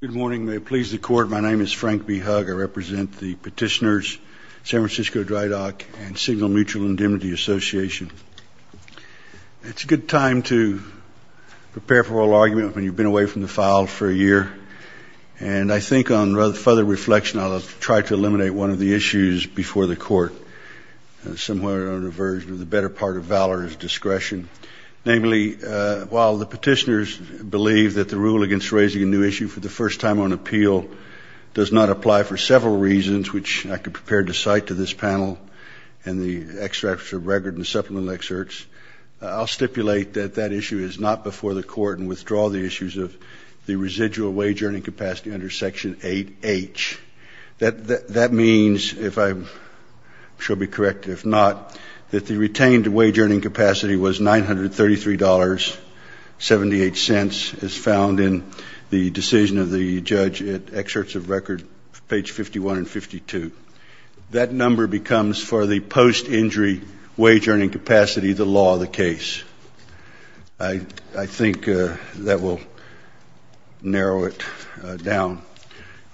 Good morning. May it please the court, my name is Frank B. Hugg. I represent the petitioners, San Francisco Drydock, and Signal Mutual Indemnity Association. It's a good time to prepare for all argument when you've been away from the file for a year. And I think on further reflection, I'll try to eliminate one of the issues before the court, somewhere on a version of the better part of valor is discretion. Namely, while the petitioners believe that the rule against raising a new issue for the first time on appeal does not apply for several reasons, which I could prepare to cite to this panel and the extracts of record and supplemental excerpts, I'll stipulate that that issue is not before the court and withdraw the issues of the residual wage earning capacity under section 8H. That means, if I shall be correct, if not, that the retained wage earning capacity was $933.78 as found in the decision of the judge at excerpts of record page 51 and 52. That number becomes for the post-injury wage earning capacity the law of the case. I think that will narrow it down.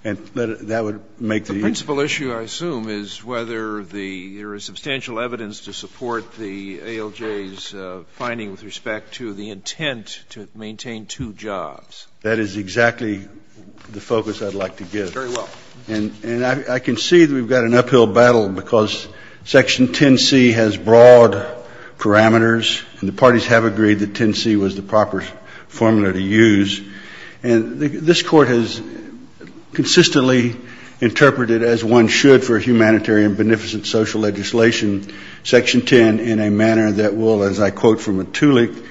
And that would make the issue. The principal issue, I assume, is whether there is substantial evidence to support the ALJ's finding with respect to the intent to maintain two jobs. That is exactly the focus I'd like to give. Very well. And I can see that we've got an uphill battle because section 10C has broad parameters, and the parties have agreed that 10C was the proper formula to use. And this court has consistently interpreted, as one should for humanitarian and beneficent social legislation, section 10 in a manner that will, as I quote from Matulik,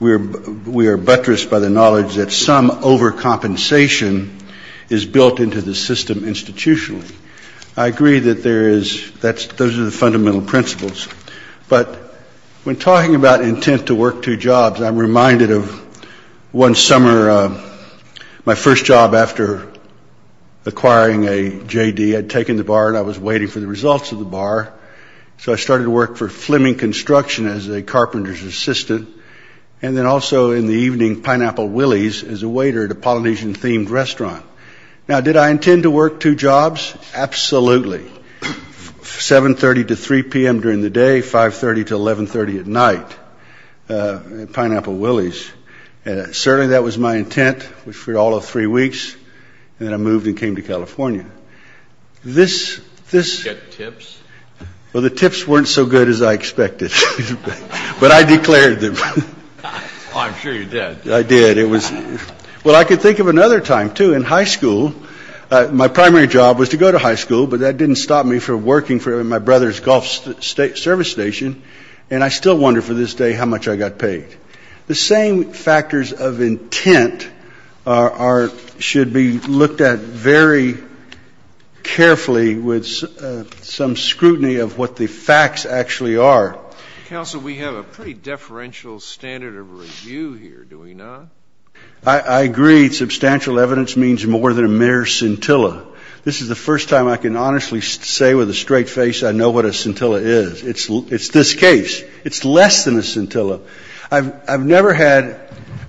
we are buttressed by the knowledge that some overcompensation is built into the system institutionally. I agree that there is, those are the fundamental principles. But when talking about intent to work two jobs, I'm reminded of one summer, my first job after acquiring a JD, I'd taken the bar and I was waiting for the results of the bar. So I started to work for Fleming Construction as a carpenter's assistant. And then also in the evening, Pineapple Willie's as a waiter at a Polynesian-themed restaurant. Now, did I intend to work two jobs? Absolutely. 7.30 to 3.00 p.m. during the day, 5.30 to 11.30 at night at Pineapple Willie's. Certainly that was my intent for all of three weeks. And then I moved and came to California. This, this, well, the tips weren't so good as I expected, but I declared them. I'm sure you did. I did. It was, well, I could think of another time, too, in high school. My primary job was to go to high school, but that didn't stop me from working for my brother's golf service station. And I still wonder for this day how much I got paid. The same factors of intent are, should be looked at very carefully with some scrutiny of what the facts actually are. Counsel, we have a pretty deferential standard of review here, do we not? I agree. Substantial evidence means more than a mere scintilla. This is the first time I can honestly say with a straight face I know what a scintilla is. It's this case. It's less than a scintilla. I've never had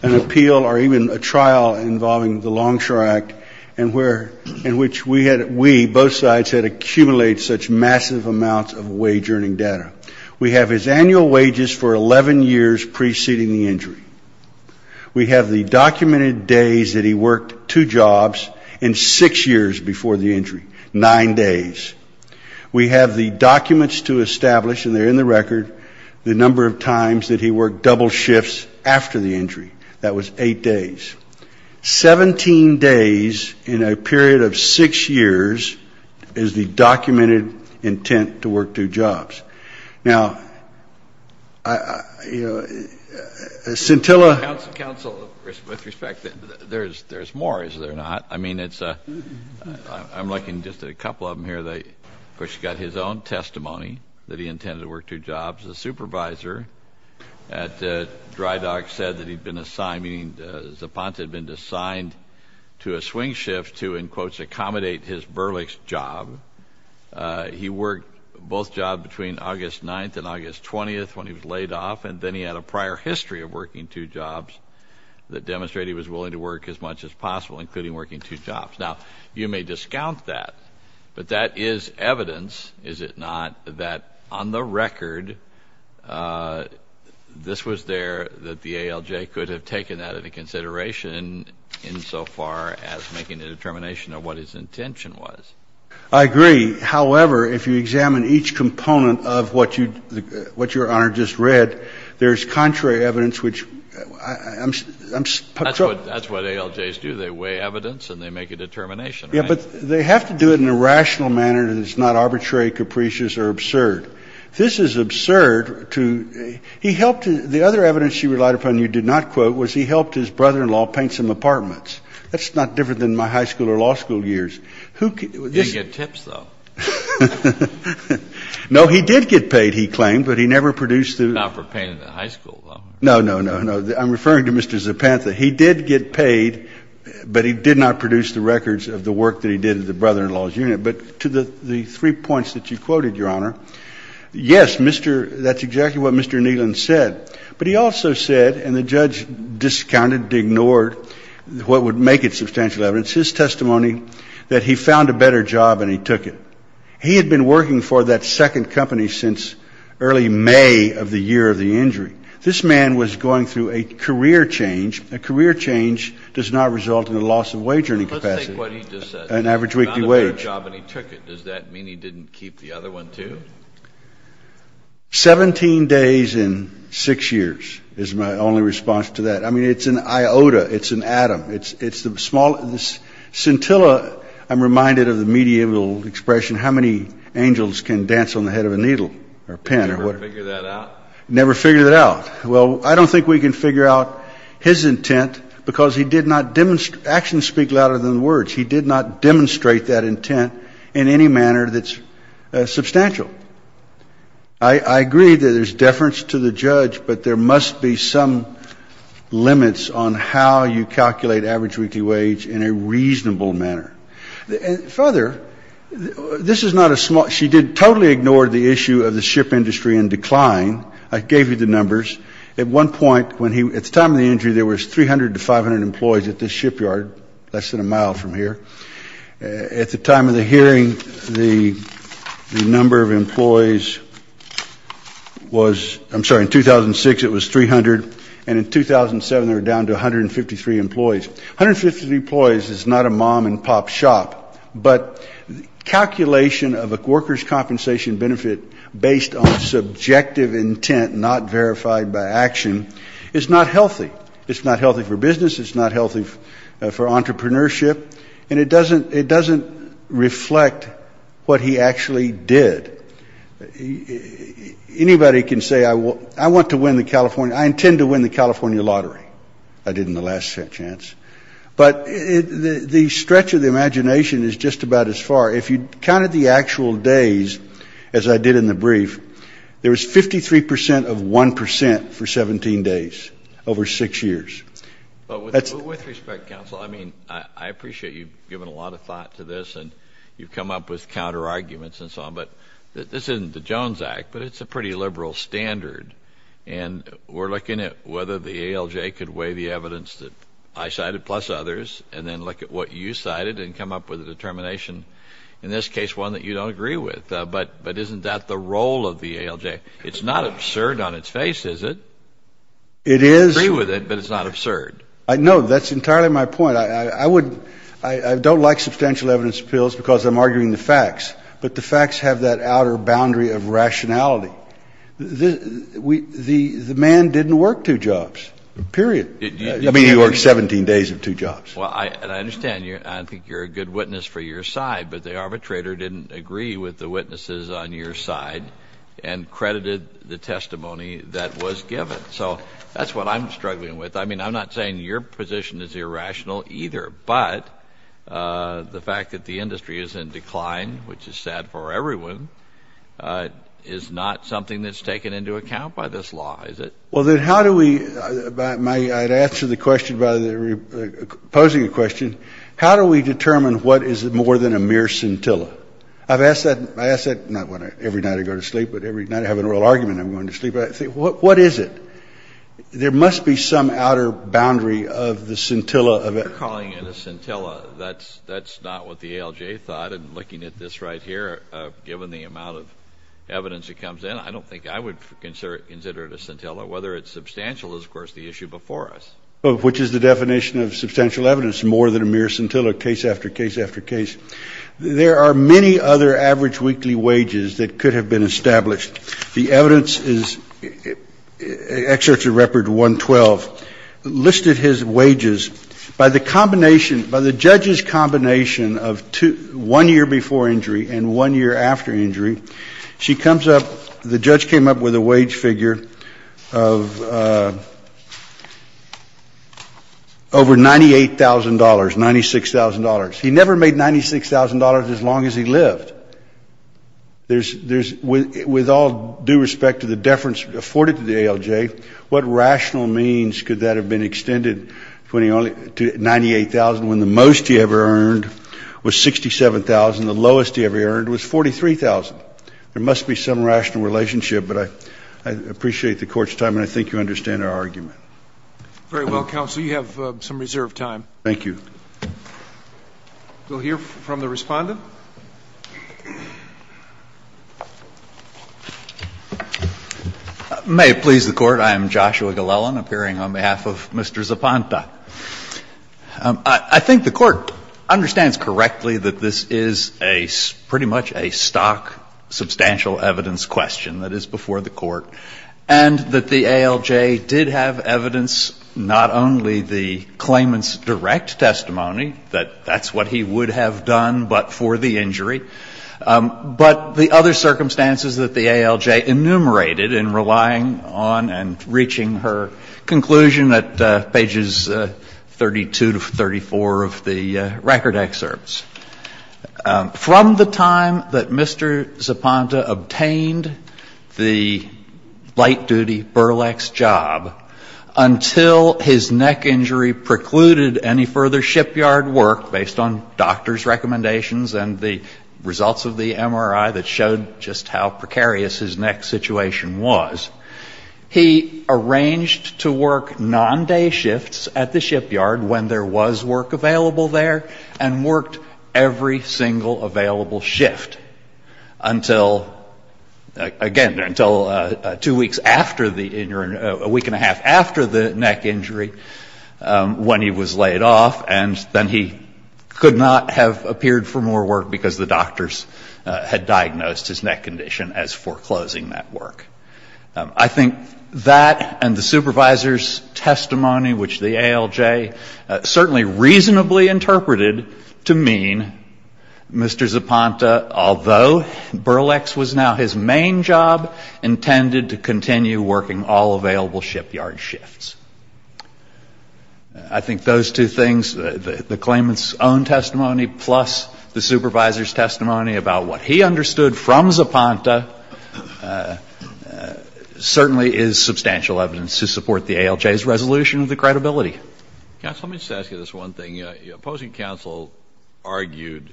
an appeal or even a trial involving the Longshore Act and where, in which we had, we, both sides had accumulated such massive amounts of wage-earning data. We have his annual wages for 11 years preceding the injury. We have the documented days that he worked 2 jobs and 6 years before the injury, 9 days. We have the documents to establish, and they're in the record, the number of times that he worked double shifts after the injury. That was 8 days. 17 days in a period of 6 years is the documented intent to work 2 jobs. Now, you know, a scintilla... Counsel, with respect, there's more, is there not? I mean, it's a, I'm looking at just a couple of them here. Of course, he's got his own testimony that he intended to work 2 jobs. The supervisor at Dry Dock said that he'd been assigned, meaning Zapata had been assigned to a swing shift to, in quotes, accommodate his burlic's job. He worked both jobs between August 9th and August 20th when he was laid off, and then he had a prior history of working 2 jobs that demonstrated he was willing to work as much as possible, including working 2 jobs. Now, you may discount that, but that is evidence, is it not, that on the record, this was there that the ALJ could have taken that into consideration insofar as making a determination of what his intention was. I agree. However, if you examine each component of what you, what Your Honor just read, there's contrary evidence which I'm... That's what ALJs do. They weigh evidence and they make a determination, right? Yeah, but they have to do it in a rational manner that is not arbitrary, capricious, or absurd. This is absurd to, he helped, the other evidence you relied upon, you did not quote, was he helped his brother-in-law paint some apartments. That's not different than my high school or law school years. Who could... He didn't get tips, though. No, he did get paid, he claimed, but he never produced the... Not for painting in high school, though. No, no, no, no. I'm referring to Mr. Zapata. He did get paid, but he did not produce the records of the work that he did at the brother-in-law's unit. But to the 3 points that you quoted, Your Honor, yes, Mr., that's exactly what Mr. Neelan said. But he also said, and the judge discounted, ignored what would make it substantial evidence, his testimony that he found a better job and he took it. He had been working for that second company since early May of the year of the injury. This man was going through a career change. A career change does not result in a loss of wage or any capacity. Let's take what he just said. An average weekly wage. He found a better years is my only response to that. I mean, it's an iota. It's an atom. It's the small... Scintilla, I'm reminded of the medieval expression, how many angels can dance on the head of a needle or pen or whatever. Never figured that out. Well, I don't think we can figure out his intent because he did not demonstrate... Actions speak louder than words. He did not there must be some limits on how you calculate average weekly wage in a reasonable manner. Further, this is not a small... She did totally ignore the issue of the ship industry and decline. I gave you the numbers. At one point, at the time of the injury, there was 300 to 500 employees at this shipyard, less than a mile from here. At the time of the hearing, the number of employees was... I'm sorry, in 2006, it was 300. And in 2007, they were down to 153 employees. 153 employees is not a mom and pop shop. But calculation of a worker's compensation benefit based on subjective intent, not verified by action, is not healthy. It's not healthy for business. It's not healthy for entrepreneurship. And it doesn't reflect what he actually did. Anybody can say I want to win the California... I intend to win the California lottery. I did in the last chance. But the stretch of the imagination is just about as far. If you counted the actual days, as I did in the brief, there was 53 percent of one percent for 17 days over six years. With respect, counsel, I mean, I appreciate you've given a lot of thought to this. I mean, it's a pretty liberal standard. And we're looking at whether the ALJ could weigh the evidence that I cited plus others, and then look at what you cited and come up with a determination, in this case, one that you don't agree with. But isn't that the role of the ALJ? It's not absurd on its face, is it? It is. I agree with it, but it's not absurd. No, that's entirely my point. I would... I don't like substantial evidence appeals because I'm looking for facts. But the facts have that outer boundary of rationality. The man didn't work two jobs, period. I mean, he worked 17 days of two jobs. Well, I understand. I think you're a good witness for your side. But the arbitrator didn't agree with the witnesses on your side and credited the testimony that was given. So that's what I'm struggling with. I mean, I'm not saying your position is irrational either. But the fact that the ALJ did not weigh the evidence, which is fine, which is sad for everyone, is not something that's taken into account by this law, is it? Well, then how do we... I'd answer the question by posing a question. How do we determine what is more than a mere scintilla? I've asked that... I ask that not every night I go to sleep, but every night I have an oral argument and I'm going to sleep. What is it? There must be some outer boundary of the scintilla. You're calling it a scintilla. That's not what the ALJ thought. And looking at this right here, given the amount of evidence that comes in, I don't think I would consider it a scintilla. Whether it's substantial is, of course, the issue before us. Which is the definition of substantial evidence, more than a mere scintilla, case after case after case. There are many other average weekly wages that could have been established. The evidence is... Excerpts of Record 112 listed his wages. By the combination, by the judge's combination of one year before injury and one year after injury, she comes up, the judge came up with a wage figure of over $98,000, $96,000. He never made $96,000 as long as he lived. With all due respect to the deference afforded to the ALJ, what rational means could that have been extended to $98,000 when the most he ever earned was $67,000 and the lowest he ever earned was $43,000? There must be some rational relationship, but I appreciate the Court's time and I think you understand our argument. Very well, Counsel, you have some reserved time. Thank you. We'll hear from the Respondent. May it please the Court. I am Joshua Glellen, appearing on behalf of Mr. Zapanta. I think the Court understands correctly that this is a pretty much a stock substantial evidence question that is before the Court, and that the ALJ did have evidence not only the claimant's direct testimony that that's what he would have done but for the injury, but the other circumstances that the ALJ enumerated in relying on and reaching her conclusion at pages 32 to 34 of the record excerpts. From the time that Mr. Zapanta obtained the light-duty burlex job until his neck injury precluded any further shipyard work, based on doctor's recommendations and the results of the MRI that showed just how precarious his neck situation was, he arranged to work non-day shifts at the shipyard when there was work available there and worked every single available shift until, again, until two weeks after the, a week and a half after the neck injury when he was laid off, and then he could not have appeared for more work because the doctors had diagnosed his neck condition as foreclosing that work. I think that and the supervisor's testimony, which the ALJ certainly reasonably interpreted to mean Mr. Zapanta's although burlex was now his main job, intended to continue working all available shipyard shifts. I think those two things, the claimant's own testimony plus the supervisor's testimony about what he understood from Zapanta, certainly is substantial evidence to support the ALJ's resolution of the credibility. Counsel, let me just ask you this one thing. The opposing counsel argued,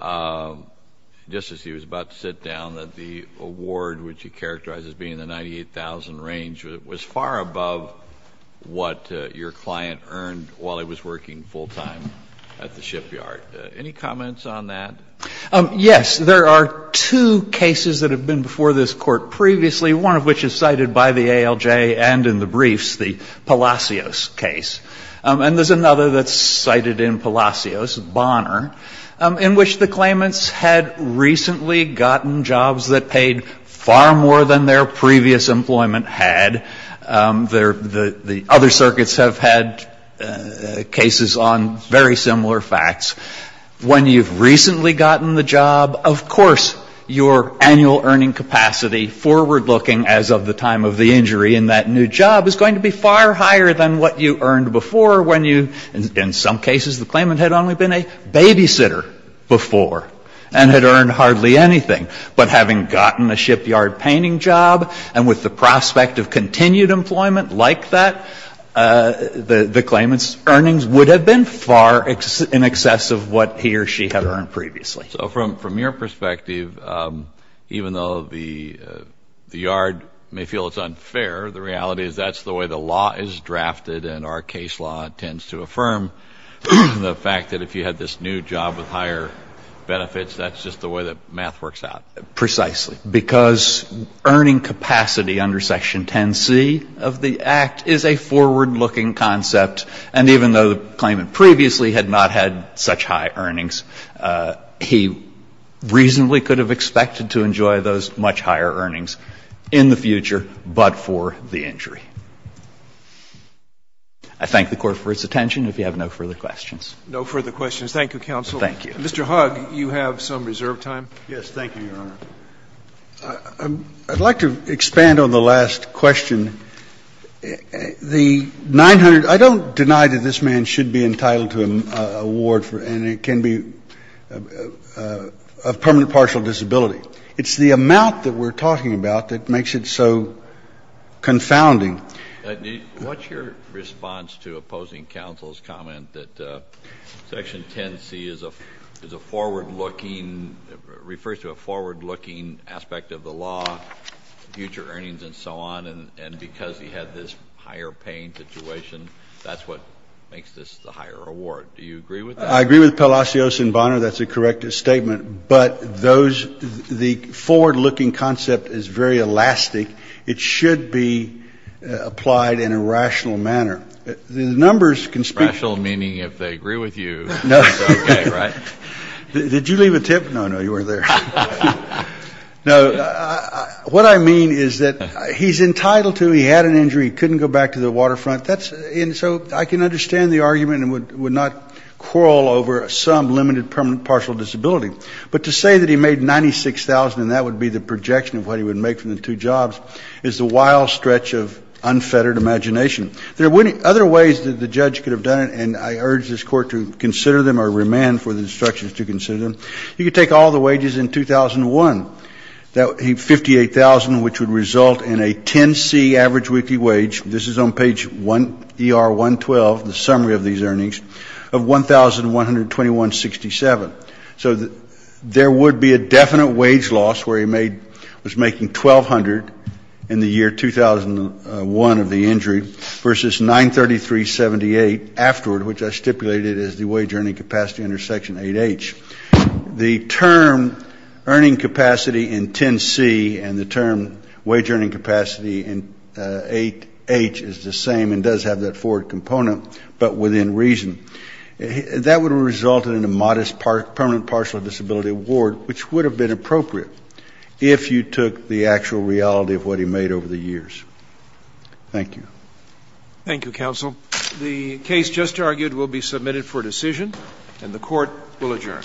just as he was about to sit down, that the award, which he characterized as being the 98,000 range, was far above what your client earned while he was working full-time at the shipyard. Any comments on that? Yes. There are two cases that have been before this Court previously, one of which is cited by the ALJ and in the case, and there's another that's cited in Palacios, Bonner, in which the claimants had recently gotten jobs that paid far more than their previous employment had. The other circuits have had cases on very similar facts. When you've recently gotten the job, of course your annual earning capacity forward-looking as of the time of the claimant, would have been far more than what he earned before when you, in some cases, the claimant had only been a babysitter before and had earned hardly anything. But having gotten a shipyard painting job and with the prospect of continued employment like that, the claimant's earnings would have been far in excess of what he or she had earned previously. So from your perspective, even though the yard may feel it's unfair, the reality is that's the way the law is drafted and our case law tends to affirm the fact that if you had this new job with higher benefits, that's just the way that math works out. Precisely. Because earning capacity under Section 10C of the Act is a forward-looking concept, and even though the claimant previously had not had such high earnings, he reasonably could have expected to enjoy those much higher earnings in the I thank the Court for its attention. If you have no further questions. No further questions. Thank you, counsel. Thank you. Mr. Hugg, you have some reserved time. Yes, thank you, Your Honor. I'd like to expand on the last question. The 900 — I don't deny that this man should be entitled to an award and it can be of permanent partial disability. It's the amount that we're talking about that makes it so confounding. What's your response to opposing counsel's comment that Section 10C is a forward-looking — refers to a forward-looking aspect of the law, future earnings and so on, and because he had this higher-paying situation, that's what makes this the higher award? Do you agree with that? I agree with Palacios and Bonner. That's a correct statement. But those — the forward-looking concept is very elastic. It should be applied in a rational manner. The numbers can speak — Rational meaning if they agree with you, it's okay, right? Did you leave a tip? No, no, you weren't there. No, what I mean is that he's entitled to — he had an injury, couldn't go back to the waterfront. That's — and so I can understand the argument and would not quarrel over some limited permanent partial disability. But to say that he made $96,000 and that would be the projection of what he would make from the two jobs is the wild stretch of unfettered imagination. There are many other ways that the judge could have done it, and I urge this Court to consider them or remand for the instructions to consider them. He could take all the wages in 2001, $58,000, which would result in a 10C average weekly wage. This is on page 1ER112, the summary of these earnings, of $1,121.67. So there would be a definite wage loss where he made — was making $1,200 in the year 2001 of the injury versus $933.78 afterward, which I stipulated as the wage earning capacity under Section 8H. The term earning capacity in 10C and the term wage earning capacity in 8H is the same and does have that forward component, but within reason. That would have resulted in a modest permanent partial disability award, which would have been appropriate if you took the actual reality of what he made over the years. Thank you. Thank you, Counsel. The case just argued will be submitted for decision, and the Court will adjourn.